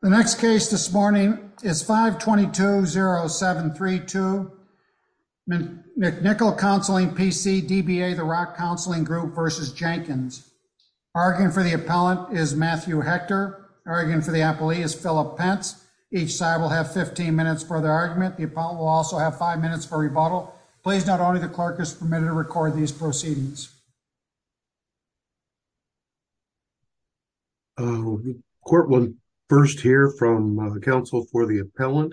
The next case this morning is 522-0732, McNicholl Counseling, P.C., DBA, The Rock Counseling Group v. Jenkins. Arguing for the appellant is Matthew Hector. Arguing for the appellee is Phillip Pence. Each side will have 15 minutes for their argument. The appellant will also have five minutes for rebuttal. Please note only the clerk is permitted to record these proceedings. Court will first hear from the counsel for the appellant.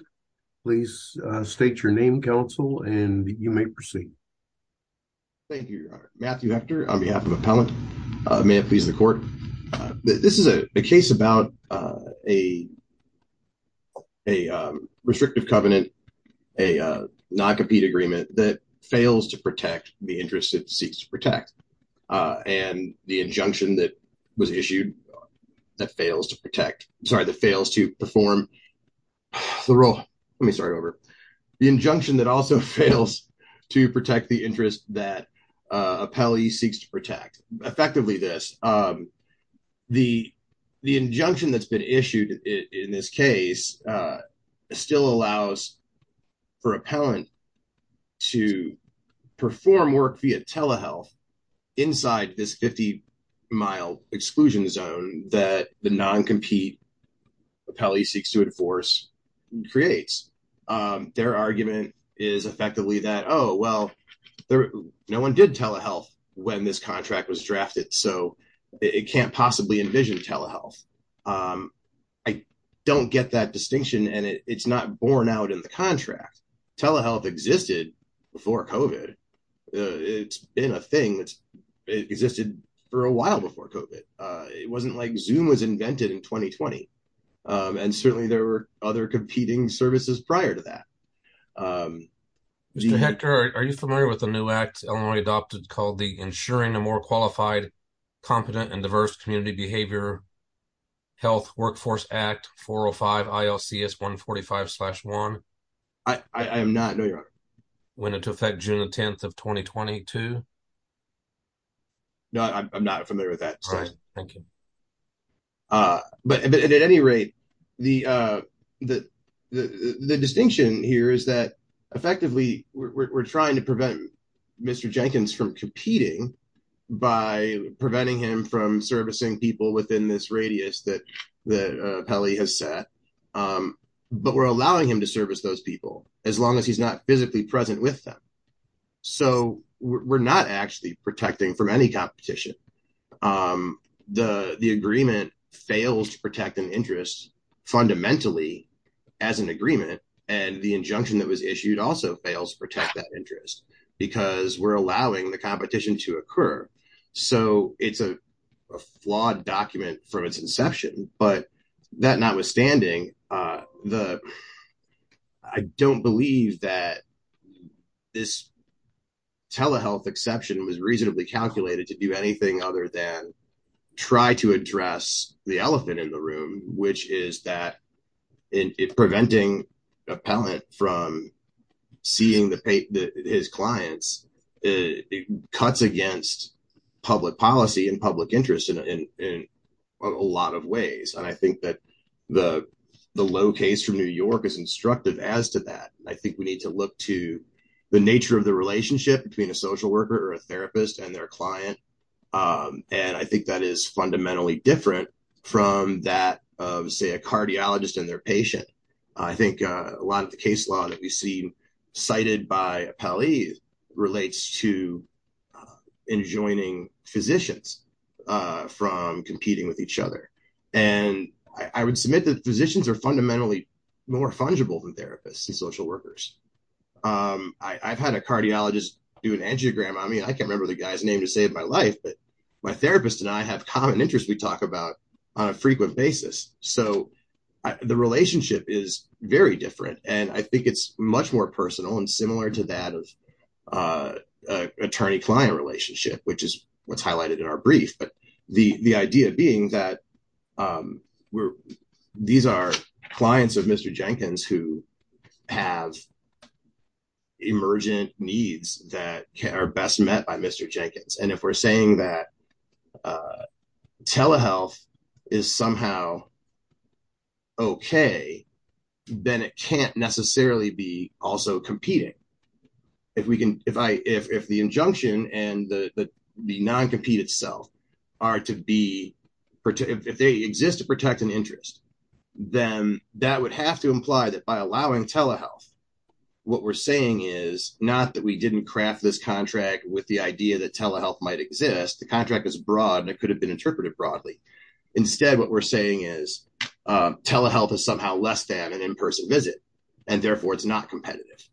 Please state your name, counsel, and you may proceed. Thank you, Your Honor. Matthew Hector on behalf of the appellant. May it please the court. This is a case about a restrictive covenant, a non-compete agreement that fails to protect the interest it seeks to protect. And the injunction that was issued that fails to protect, sorry, that fails to perform the role. Let me start over. The injunction that also fails to protect the interest that appellee seeks to protect. Effectively this, the injunction that's been issued in this case still allows for appellant to perform work via telehealth inside this 50-mile exclusion zone that the non-compete appellee seeks to enforce creates. Their argument is effectively that, oh, well, no one did telehealth when this contract was drafted, so it can't possibly envision telehealth. I don't get that distinction, and it's not borne out in the contract. Telehealth existed before COVID. It's been a thing that's existed for a while before COVID. It wasn't like Zoom was invented in 2020, and certainly there were other competing services prior to that. Mr. Hector, are you familiar with the new act Illinois adopted called the Ensuring a More Qualified, Competent, and Diverse Community Behavior Health Workforce Act 405 ILCS 145-1? I am not, no, your honor. When it took effect June 10th of 2022? No, I'm not familiar with that. Right, thank you. But at any rate, the distinction here is that effectively we're trying to prevent Mr. Jenkins from competing by preventing him from servicing people within this radius that the appellee has set, but we're allowing him to service those people as long as he's not physically present with them. So we're not actually protecting from any competition. The agreement fails to protect an interest fundamentally as an agreement, and the we're allowing the competition to occur. So it's a flawed document from its inception, but that notwithstanding, I don't believe that this telehealth exception was reasonably calculated to do anything other than try to address the elephant in the room, which is that in preventing appellant from seeing his clients, it cuts against public policy and public interest in a lot of ways. And I think that the low case from New York is instructive as to that. I think we need to look to the nature of the relationship between a social worker or a therapist and their client, and I think that is fundamentally different from that of, say, a cardiologist and their patient. I think a lot of the case law that we've seen cited by appellees relates to enjoining physicians from competing with each other. And I would submit that physicians are fundamentally more fungible than therapists and social workers. I've had a cardiologist do an angiogram on me. I can't remember the guy's name to save my life, but therapists and I have common interests we talk about on a frequent basis. So the relationship is very different, and I think it's much more personal and similar to that of an attorney-client relationship, which is what's highlighted in our brief. But the idea being that these are clients of Mr. Jenkins who have emergent needs that are best met by Mr. Jenkins. And if we're saying that telehealth is somehow okay, then it can't necessarily be also competing. If the injunction and the non-compete itself are to be, if they exist to protect an interest, then that would have to imply that by allowing telehealth, what we're is not that we didn't craft this contract with the idea that telehealth might exist. The contract is broad, and it could have been interpreted broadly. Instead, what we're saying is telehealth is somehow less than an in-person visit, and therefore it's not competitive.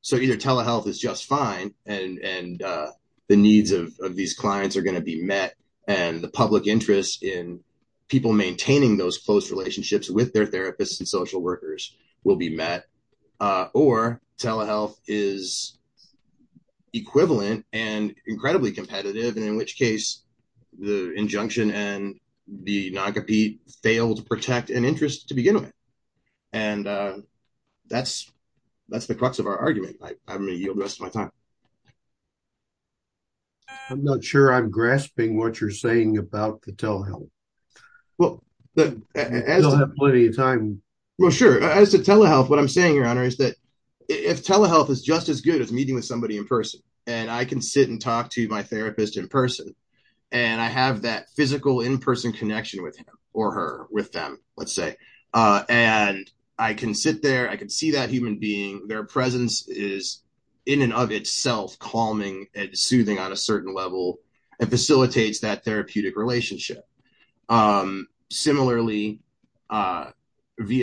So either telehealth is just fine, and the needs of these clients are going to be met, and the public interest in people maintaining those close relationships with their therapists and social workers will be met, or telehealth is equivalent and incredibly competitive, and in which case the injunction and the non-compete failed to protect an interest to begin with. And that's the crux of our argument. I'm going to yield the rest of my time. I'm not sure I'm grasping what you're saying about the telehealth. Well, sure. As to telehealth, what I'm saying, Your Honor, is that if telehealth is just as good as meeting with somebody in person, and I can sit and talk to my therapist in person, and I have that physical in-person connection with him or her, with them, let's say, and I can sit there, I can see that human being, their presence is in and of itself calming and soothing on a certain level and facilitates that therapeutic relationship. Similarly, via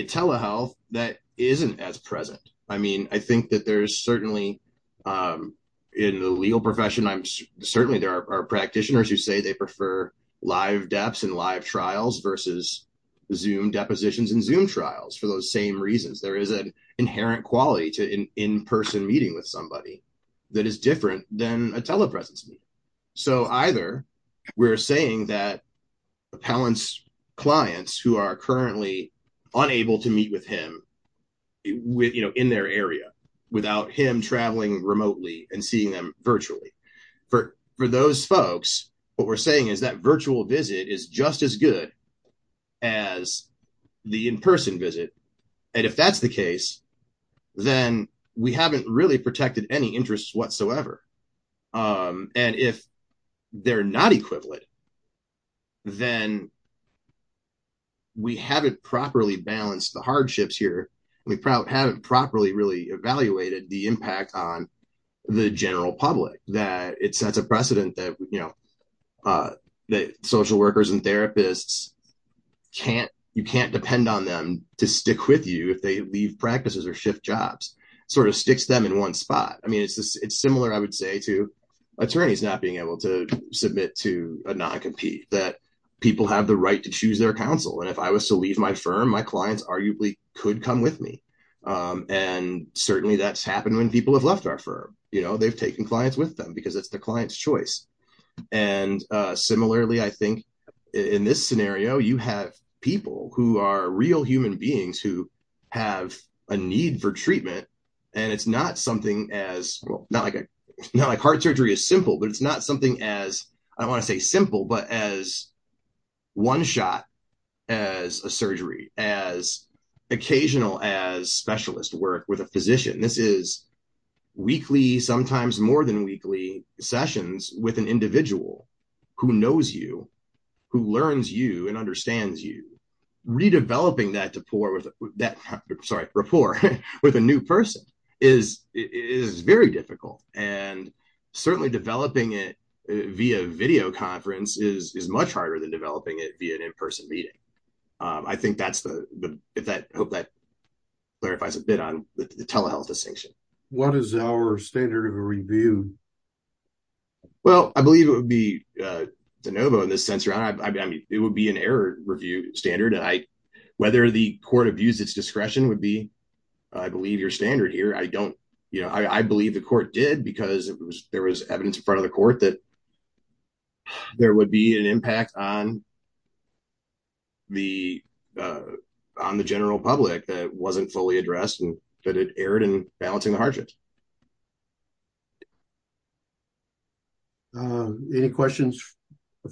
telehealth, that isn't as present. I mean, I think that there's certainly, in the legal profession, certainly there are practitioners who say they prefer live depths and live trials versus Zoom depositions and Zoom trials for those same reasons. There is an inherent quality to in-person meeting with somebody that is different than a telepresence meeting. So either we're saying that appellants' clients who are currently unable to meet with him in their area without him traveling remotely and seeing them virtually, for those folks, what we're saying is that virtual visit is just as good as the in-person visit. And if that's the case, then we haven't really protected any interests whatsoever. And if they're not equivalent, then we haven't properly balanced the hardships here. We haven't properly really evaluated the impact on the general public that it sets a precedent that social workers and therapists, you can't depend on them to stick with you if they leave practices or shift jobs, sort of sticks them in one spot. I mean, it's similar, I would say, to attorneys not being able to submit to a non-compete, that people have the right to choose their counsel. And if I was to leave my firm, my clients arguably could come with me. And certainly that's happened when people have left our firm. They've taken clients with them because it's the client's choice. And similarly, I think in this scenario, you have people who are real human beings who have a need for treatment. And it's not something as, well, not like heart surgery is simple, but it's not something as, I don't want to say simple, but as one shot as a surgery, as occasional as specialist work with a physician. This is weekly, sometimes more than weekly sessions with an individual who knows you, who learns you and understands you. Redeveloping that rapport with a new person is very difficult. And certainly developing it via video conference is much harder than developing it via an in-person meeting. I hope that clarifies a bit on the telehealth distinction. What is our standard of review? Well, I believe it would be de novo in this sense. I mean, it would be an error review standard. Whether the court abused its discretion would be, I believe your standard here. I don't, you know, I believe the court did because there was evidence in front of the court that there would be an impact on the general public that wasn't fully addressed and that it erred in balancing the hardships. Any questions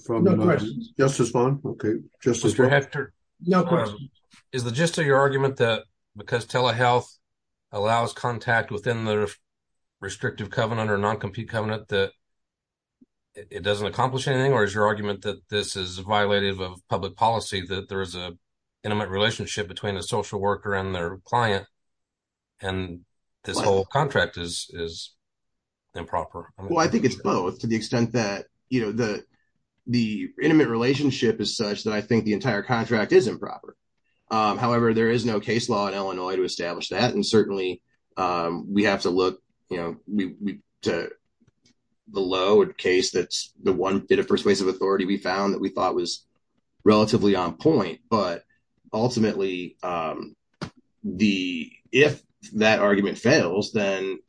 from the Justice Fund? Okay. Mr. Hector, is the gist of your argument that because telehealth allows contact within the non-compete covenant that it doesn't accomplish anything? Or is your argument that this is violative of public policy, that there is an intimate relationship between a social worker and their client and this whole contract is improper? Well, I think it's both to the extent that, you know, the intimate relationship is such that I think the entire contract is improper. However, there is no case law in Illinois to the law or case that's the one bit of persuasive authority we found that we thought was relatively on point. But ultimately, if that argument fails, then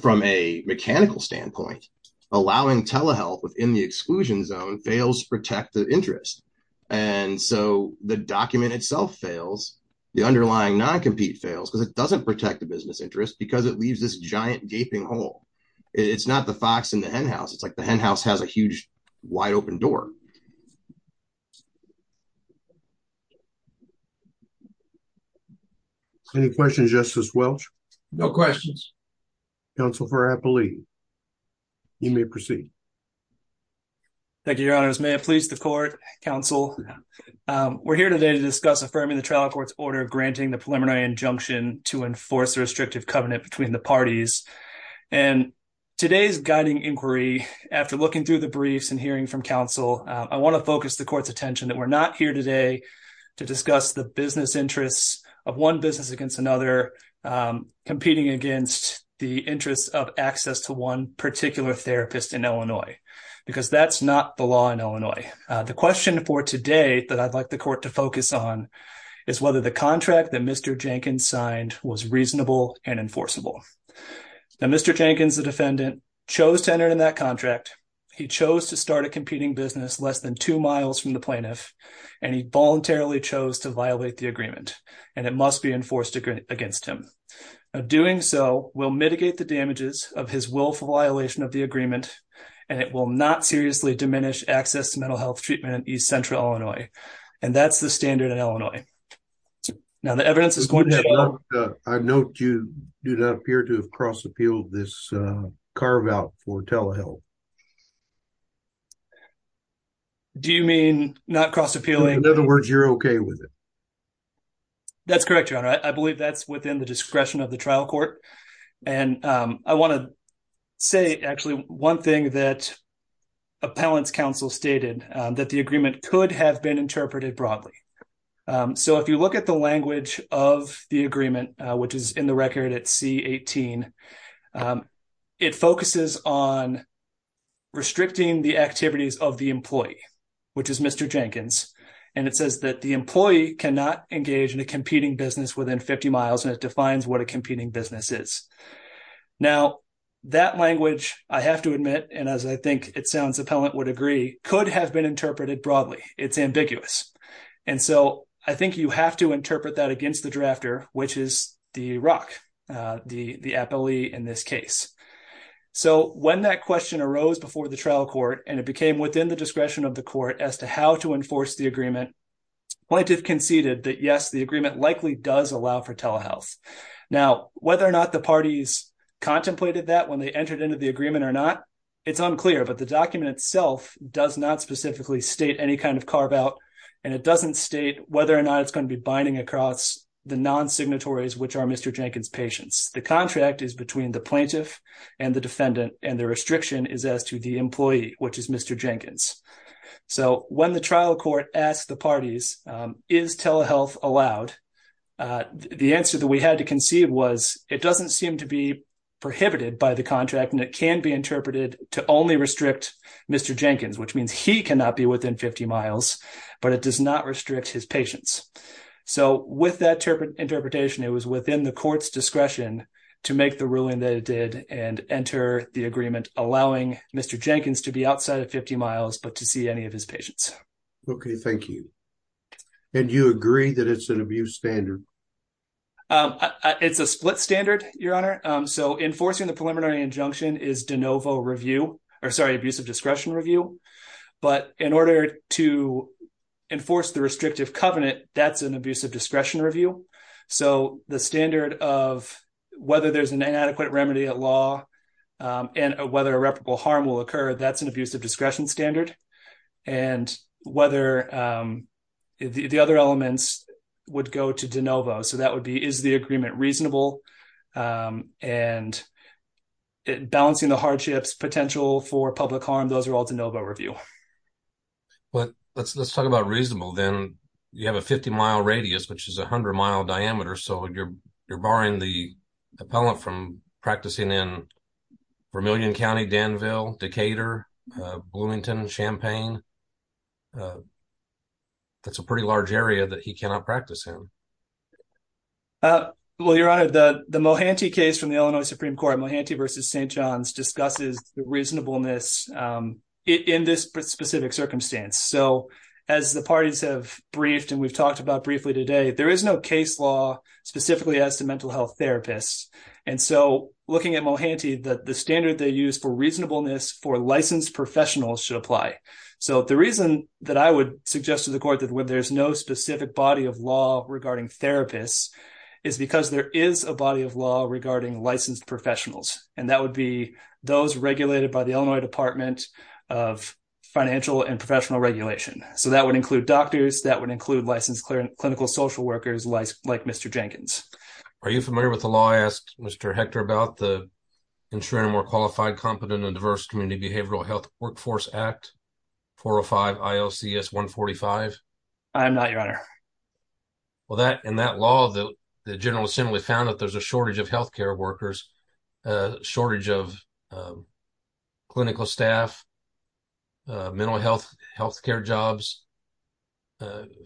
from a mechanical standpoint, allowing telehealth within the exclusion zone fails to protect the interest. And so the document itself fails, the underlying non-compete fails because it doesn't protect the business interest because it leaves this giant gaping hole. It's not the fox in the hen house. It's like the hen house has a huge wide open door. Any questions, Justice Welch? No questions. Counsel for Appley, you may proceed. Thank you, Your Honors. May it please the court, counsel. We're here today to discuss affirming the trial court's order granting the preliminary injunction to enforce the restrictive covenant between the parties. And today's guiding inquiry, after looking through the briefs and hearing from counsel, I want to focus the court's attention that we're not here today to discuss the business interests of one business against another competing against the interests of access to one particular therapist in Illinois, because that's not the law in Illinois. The question for today that I'd like the court to focus on is whether the contract that Mr. Jenkins signed was reasonable and enforceable. Mr. Jenkins, the defendant, chose to enter in that contract. He chose to start a competing business less than two miles from the plaintiff, and he voluntarily chose to violate the agreement, and it must be enforced against him. Doing so will mitigate the damages of his willful violation of the agreement, and it will not seriously diminish access to mental health treatment in East Central Illinois. And that's the standard in Illinois. Now, the evidence is going to... I note you do not appear to have cross-appealed this carve-out for telehealth. Do you mean not cross-appealing? In other words, you're okay with it. That's correct, Your Honor. I believe that's within the discretion of the trial court. And I want to say, actually, one thing that appellant's counsel stated, that the agreement could have been interpreted broadly. So if you look at the language of the agreement, which is in the record at C-18, it focuses on restricting the activities of the employee, which is Mr. Jenkins, and it says that the employee cannot engage in a competing business within 50 miles, and it defines what a competing business is. Now, that language, I have to admit, and as I think it sounds appellant would agree, could have been interpreted broadly. It's ambiguous. And so I think you have to interpret that against the drafter, which is the ROC, the appellee in this case. So when that question arose before the trial court, and it became within the discretion of the court as to how to enforce the agreement, plaintiff conceded that yes, the agreement likely does allow for telehealth. Now, whether or not the parties contemplated that when they entered into the agreement or not, it's unclear, but the document itself does not specifically state any kind of carve-out, and it doesn't state whether or not it's going to be binding across the non-signatories, which are Mr. Jenkins' patients. The contract is between the plaintiff and the defendant, and the restriction is as to the employee, which is Mr. Jenkins. So when the trial court asked the parties, is telehealth allowed? The answer that we had to conceive was, it doesn't seem to be prohibited by the contract, and it can be interpreted to only restrict Mr. Jenkins, which means he cannot be within 50 miles, but it does not restrict his patients. So with that interpretation, it was within the court's discretion to make the ruling that it did, and enter the agreement allowing Mr. Jenkins to be outside of 50 miles, but to see any of his patients. Okay, thank you. And you agree that it's an abuse standard? It's a split standard, your honor. So enforcing the preliminary injunction is de novo review, or sorry, abuse of discretion review, but in order to enforce the restrictive covenant, that's an standard of whether there's an inadequate remedy at law, and whether irreparable harm will occur, that's an abuse of discretion standard. And whether the other elements would go to de novo, so that would be, is the agreement reasonable? And balancing the hardships, potential for public harm, those are all de novo review. But let's talk about reasonable, then you have a 50-mile radius, which is 100-mile diameter, so you're barring the appellant from practicing in Vermillion County, Danville, Decatur, Bloomington, Champaign. That's a pretty large area that he cannot practice in. Well, your honor, the Mohanty case from the Illinois Supreme Court, Mohanty v. St. John's, discusses the reasonableness in this specific circumstance. So as the parties have briefed, and we've talked about briefly today, there is no case law specifically as to mental health therapists. And so looking at Mohanty, the standard they use for reasonableness for licensed professionals should apply. So the reason that I would suggest to the court that there's no specific body of law regarding therapists is because there is a body of law regarding licensed professionals, and that would be those regulated by the Illinois Department of Financial and Professional Regulation. So that would include doctors, that would include licensed clinical social workers like Mr. Jenkins. Are you familiar with the law, I asked Mr. Hector, about the Ensuring a More Qualified, Competent, and Diverse Community Behavioral Health Workforce Act, 405 ILCS 145? I am not, your honor. Well, in that law, the General Assembly found that there's a shortage of health care workers, shortage of clinical staff, mental health, health care jobs,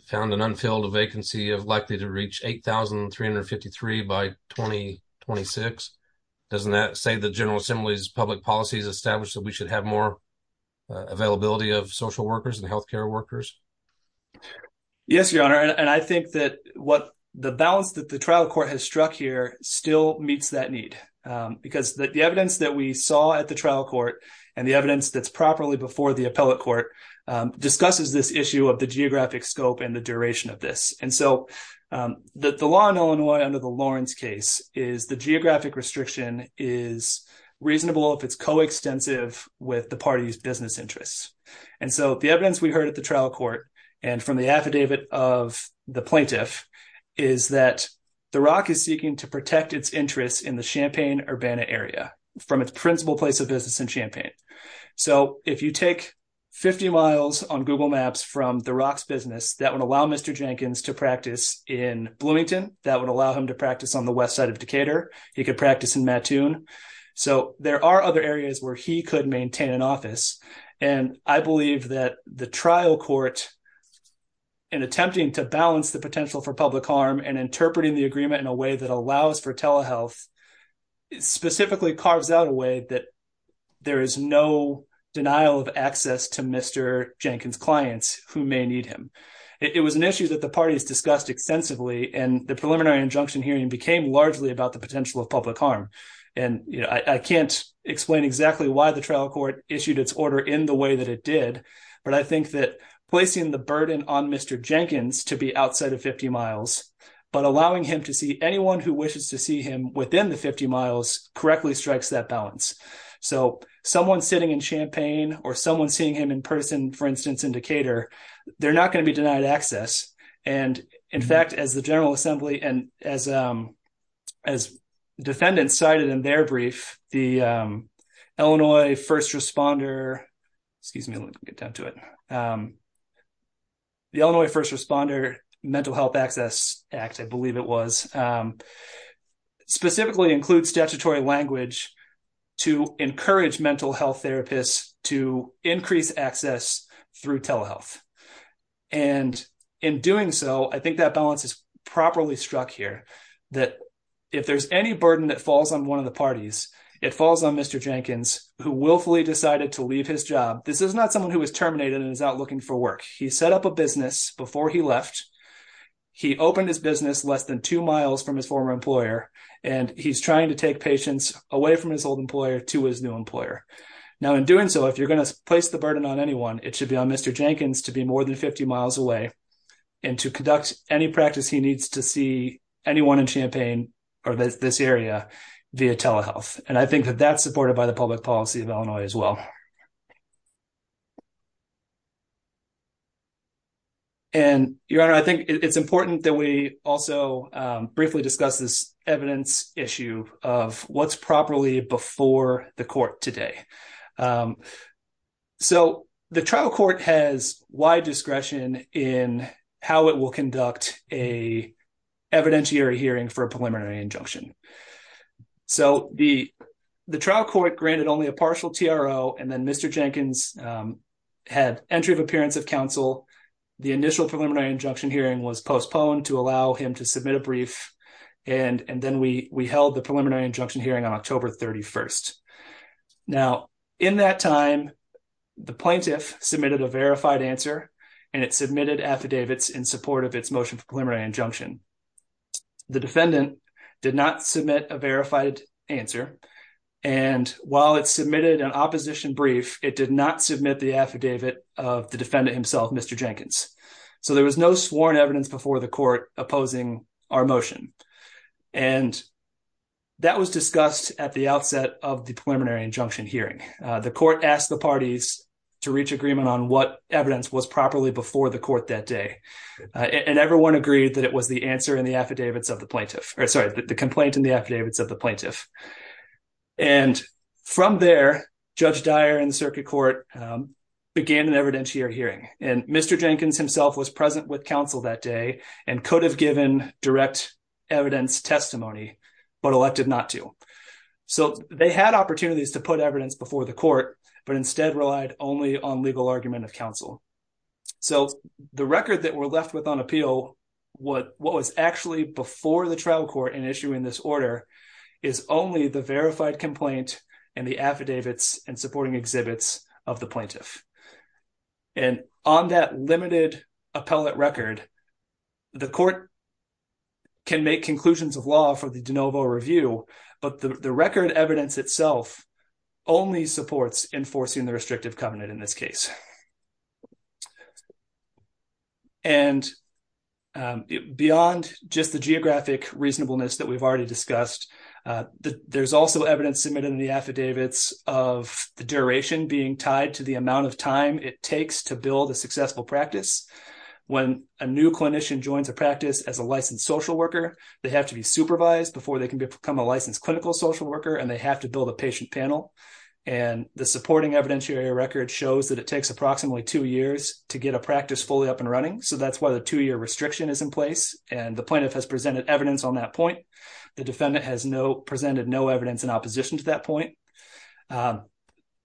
found an unfilled vacancy of likely to reach 8,353 by 2026. Doesn't that say the General Assembly's public policies established that we should have more availability of social workers and health care workers? Yes, your honor. And I think that what the balance that the trial court has struck here still meets that need, because the evidence that we saw at the trial court and the evidence that's properly before the appellate court discusses this issue of the geographic scope and the duration of this. And so the law in Illinois under the Lawrence case is the geographic restriction is reasonable if it's coextensive with the party's business interests. And so the evidence we heard at the Champaign-Urbana area, from its principal place of business in Champaign. So if you take 50 miles on Google Maps from the Rocks business, that would allow Mr. Jenkins to practice in Bloomington. That would allow him to practice on the west side of Decatur. He could practice in Mattoon. So there are other areas where he could maintain an office. And I believe that the trial court, in attempting to balance the potential for public harm and interpreting the agreement in a way that allows for telehealth, specifically carves out a way that there is no denial of access to Mr. Jenkins' clients who may need him. It was an issue that the parties discussed extensively and the preliminary injunction hearing became largely about the potential of public harm. And I can't explain exactly why the trial court issued its order in the way that it did, but I think that placing the burden on Mr. Jenkins to be outside of 50 miles, but allowing him to see anyone who wishes to see him within the 50 miles correctly strikes that balance. So someone sitting in Champaign or someone seeing him in person, for instance, in Decatur, they're not going to be denied access. And in fact, as the General Assembly and as defendants cited in their brief, the Illinois First Responder, excuse me, let me get down to it. The Illinois First Responder Mental Health Act, I believe it was, specifically includes statutory language to encourage mental health therapists to increase access through telehealth. And in doing so, I think that balance is properly struck here, that if there's any burden that falls on one of the parties, it falls on Mr. Jenkins, who willfully decided to leave his job. This is not someone who was terminated and is out looking for work. He set up a business before he left. He opened his business less than two miles from his former employer, and he's trying to take patients away from his old employer to his new employer. Now in doing so, if you're going to place the burden on anyone, it should be on Mr. Jenkins to be more than 50 miles away and to conduct any practice he needs to see anyone in Champaign or this area via telehealth. And I think that that's supported by the public policy of the Illinois First Responder. And Your Honor, I think it's important that we also briefly discuss this evidence issue of what's properly before the court today. So the trial court has wide discretion in how it will conduct a evidentiary hearing for a preliminary injunction. So the the initial preliminary injunction hearing was postponed to allow him to submit a brief, and then we held the preliminary injunction hearing on October 31st. Now in that time, the plaintiff submitted a verified answer, and it submitted affidavits in support of its motion for preliminary injunction. The defendant did not submit a verified answer, and while it submitted an opposition brief, it did not submit the affidavit of the defendant himself, Mr. Jenkins. So there was no sworn evidence before the court opposing our motion. And that was discussed at the outset of the preliminary injunction hearing. The court asked the parties to reach agreement on what evidence was properly before the court that day, and everyone agreed that it was the answer in the affidavits of the plaintiff, or sorry, the complaint in the affidavits of the plaintiff. And from there, Judge Dyer and the circuit court began an evidentiary hearing, and Mr. Jenkins himself was present with counsel that day and could have given direct evidence testimony, but elected not to. So they had opportunities to put evidence before the court, but instead relied only on legal argument of counsel. So the record that we're left with on appeal, what was actually before the trial court in issuing this order, is only the verified complaint and the affidavits and supporting exhibits of the plaintiff. And on that limited appellate record, the court can make conclusions of law for the de novo review, but the record evidence itself only supports enforcing the restrictive covenant in this case. And beyond just the geographic reasonableness that we've already discussed, there's also evidence submitted in the affidavits of the duration being tied to the amount of time it takes to build a successful practice. When a new clinician joins a practice as a licensed social worker, they have to be supervised before they can become a licensed clinical social worker, and they have to build a patient panel. And the supporting evidentiary record shows that it takes approximately two years to get a practice fully up and running. So that's why the two-year restriction is in place, and the plaintiff has presented evidence on that point. The defendant presented no evidence in opposition to that point.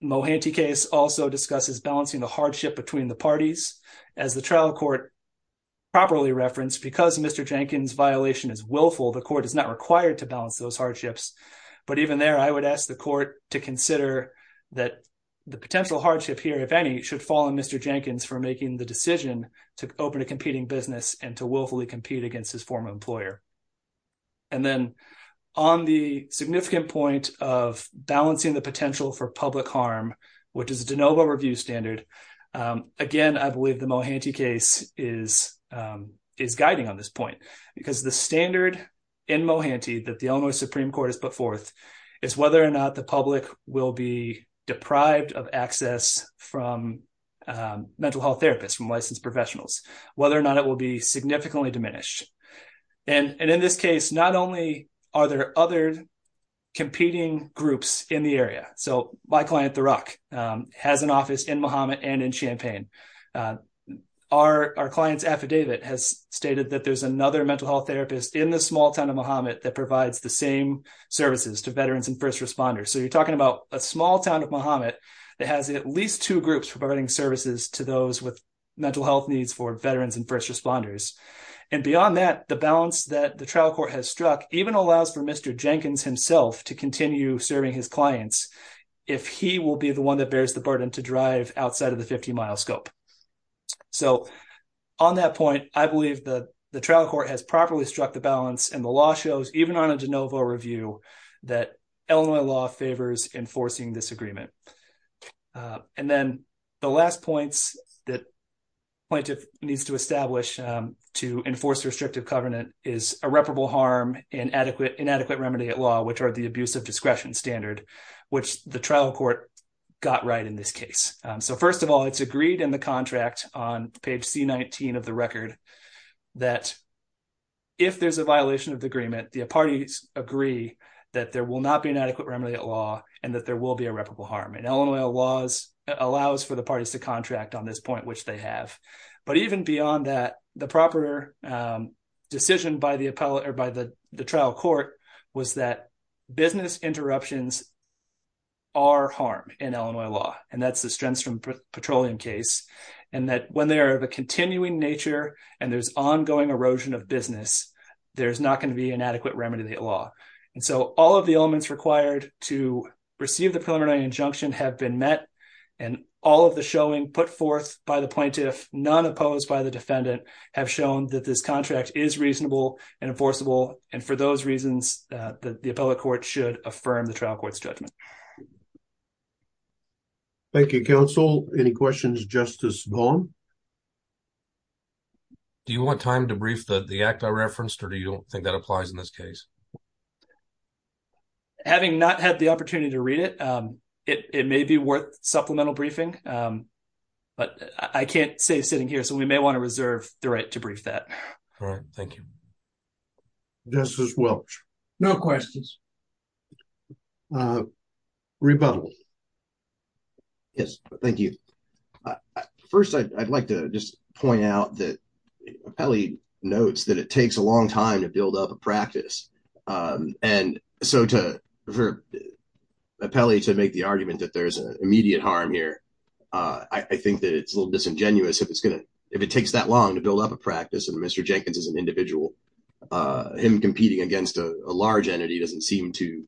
Mohanty case also discusses balancing the hardship between the parties. As the trial court properly referenced, because Mr. Jenkins' violation is willful, the court is not required to balance those hardships. But even there, I would ask the court to consider that the potential hardship here, if any, should fall on Mr. Jenkins for making the decision to open a competing business and to willfully compete against his former employer. And then on the significant point of balancing the potential for public harm, which is the de novo review standard, again, I believe the Mohanty case is guiding on this point, because the standard in Mohanty that the Illinois Supreme Court has put forth is whether or not the public will be deprived of access from mental health therapists, licensed professionals, whether or not it will be significantly diminished. And in this case, not only are there other competing groups in the area. So my client, The Rock, has an office in Mahomet and in Champaign. Our client's affidavit has stated that there's another mental health therapist in the small town of Mahomet that provides the same services to veterans and first responders. So you're talking about a small town of Mahomet that has at least two groups providing services to those with mental health needs for veterans and first responders. And beyond that, the balance that the trial court has struck even allows for Mr. Jenkins himself to continue serving his clients if he will be the one that bears the burden to drive outside of the 50-mile scope. So on that point, I believe that the trial court has properly struck the balance, and the law shows, even on a de novo review, that Illinois law favors enforcing this agreement. And then the last points that plaintiff needs to establish to enforce restrictive covenant is irreparable harm and inadequate remedy at law, which are the abuse of discretion standard, which the trial court got right in this case. So first of all, it's agreed in the contract on page C-19 of the record that if there's a violation of the covenant, the parties agree that there will not be an adequate remedy at law and that there will be irreparable harm. And Illinois law allows for the parties to contract on this point, which they have. But even beyond that, the proper decision by the trial court was that business interruptions are harm in Illinois law, and that's the Strenstrom Petroleum case, and that when they are of a law. And so all of the elements required to receive the preliminary injunction have been met, and all of the showing put forth by the plaintiff, none opposed by the defendant, have shown that this contract is reasonable and enforceable. And for those reasons, the appellate court should affirm the trial court's judgment. Thank you, counsel. Any questions, Justice Vaughn? Do you want time to brief the act I referenced, or do you think that applies in this case? Having not had the opportunity to read it, it may be worth supplemental briefing, but I can't say sitting here, so we may want to reserve the right to brief that. All right, thank you. Justice Welch? No questions. Rebuttal. Yes, thank you. First, I'd like to just point out that notes that it takes a long time to build up a practice. And so, to make the argument that there's an immediate harm here, I think that it's a little disingenuous if it takes that long to build up a practice, and Mr. Jenkins is an individual. Him competing against a large entity doesn't seem to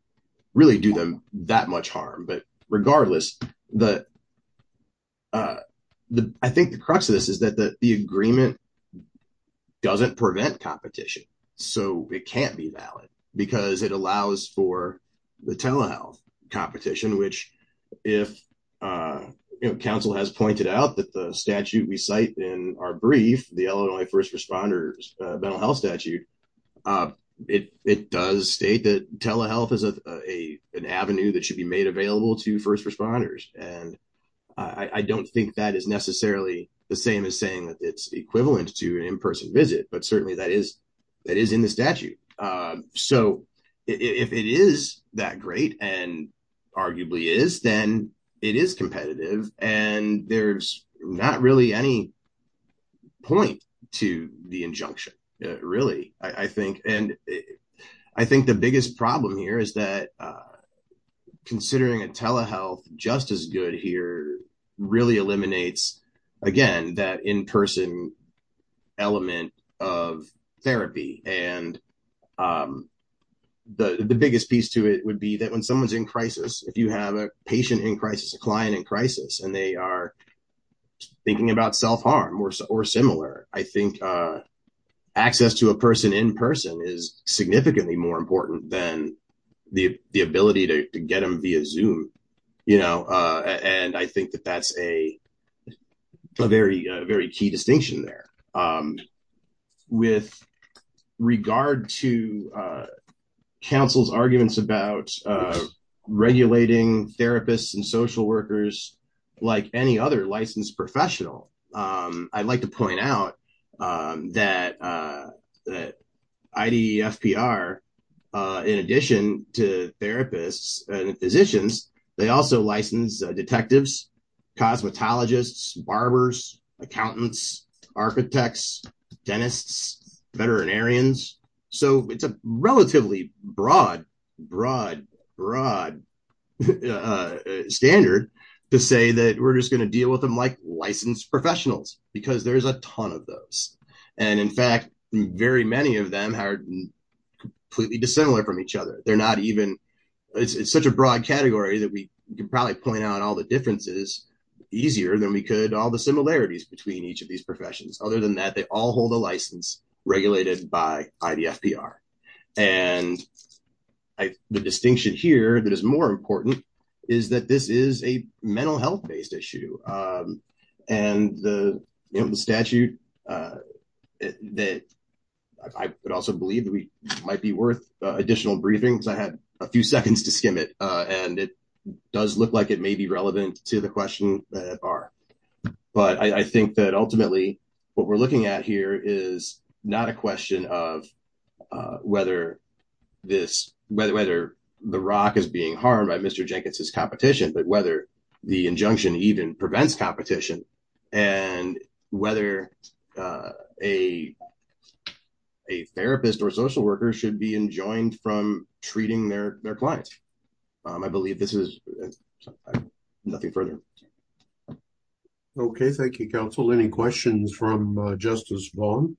really do them that much harm. But regardless, I think the crux of this is that the agreement doesn't prevent competition. So, it can't be valid because it allows for the telehealth competition, which if counsel has pointed out that the statute we cite in our brief, the Illinois first responders mental health statute, it does state that telehealth is an avenue that should be made available to first responders. And I don't think that is necessarily the same as saying that it's equivalent to an in-person visit, but certainly that is in the statute. So, if it is that great, and arguably is, then it is competitive. And there's not really any point to the injunction, really, I think. And I think the biggest problem here is that considering a telehealth just as good here really eliminates, again, that in-person element of therapy. And the biggest piece to it would be that when someone's in crisis, if you have a patient in crisis, a client in crisis, and they are thinking about self-harm or similar, I think access to a person in person is significantly more important than the ability to get them via Zoom. And I think that that's a very key distinction there. With regard to counsel's arguments about regulating therapists and social workers like any other licensed professional, I'd like to point out that IDFPR, in addition to therapists and physicians, they also license detectives, cosmetologists, barbers, accountants, architects, dentists, veterinarians. So, it's a relatively broad, broad, broad standard to say that we're just going to license professionals, because there's a ton of those. And in fact, very many of them are completely dissimilar from each other. They're not even, it's such a broad category that we can probably point out all the differences easier than we could all the similarities between each of these professions. Other than that, they all hold a license regulated by IDFPR. And the distinction here that is more important is that this is a mental health-based issue. And the statute that I would also believe that we might be worth additional briefing, because I had a few seconds to skim it. And it does look like it may be relevant to the question that IDFPR. But I think that ultimately, what we're looking at here is not a question of whether this, whether the ROC is being harmed by Mr. Jenkins's competition, but whether the injunction even prevents competition, and whether a therapist or social worker should be enjoined from treating their clients. I believe this is nothing further. Okay, thank you, counsel. Any questions from Justice Baum?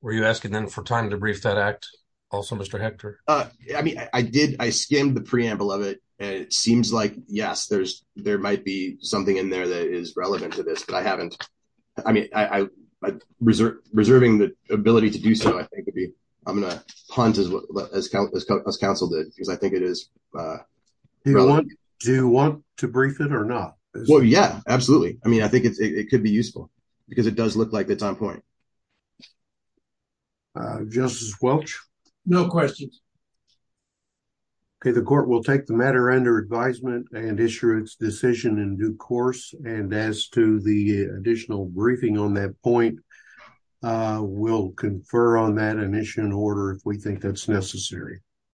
Were you asking them for time to brief that act? Also, Mr. Hector? I mean, I skimmed the preamble of it. And it seems like, yes, there might be something in there that is relevant to this, but I haven't. I mean, reserving the ability to do so, I think, would be, I'm going to punt as counsel did, because I think it is relevant. Do you want to brief it or not? Well, yeah, absolutely. I mean, I think it could be useful, because it does look like it's on point. Justice Welch? No questions. Okay, the court will take the matter under advisement and issue its decision in due course. And as to the additional briefing on that point, we'll confer on that and issue an order if we think that's necessary.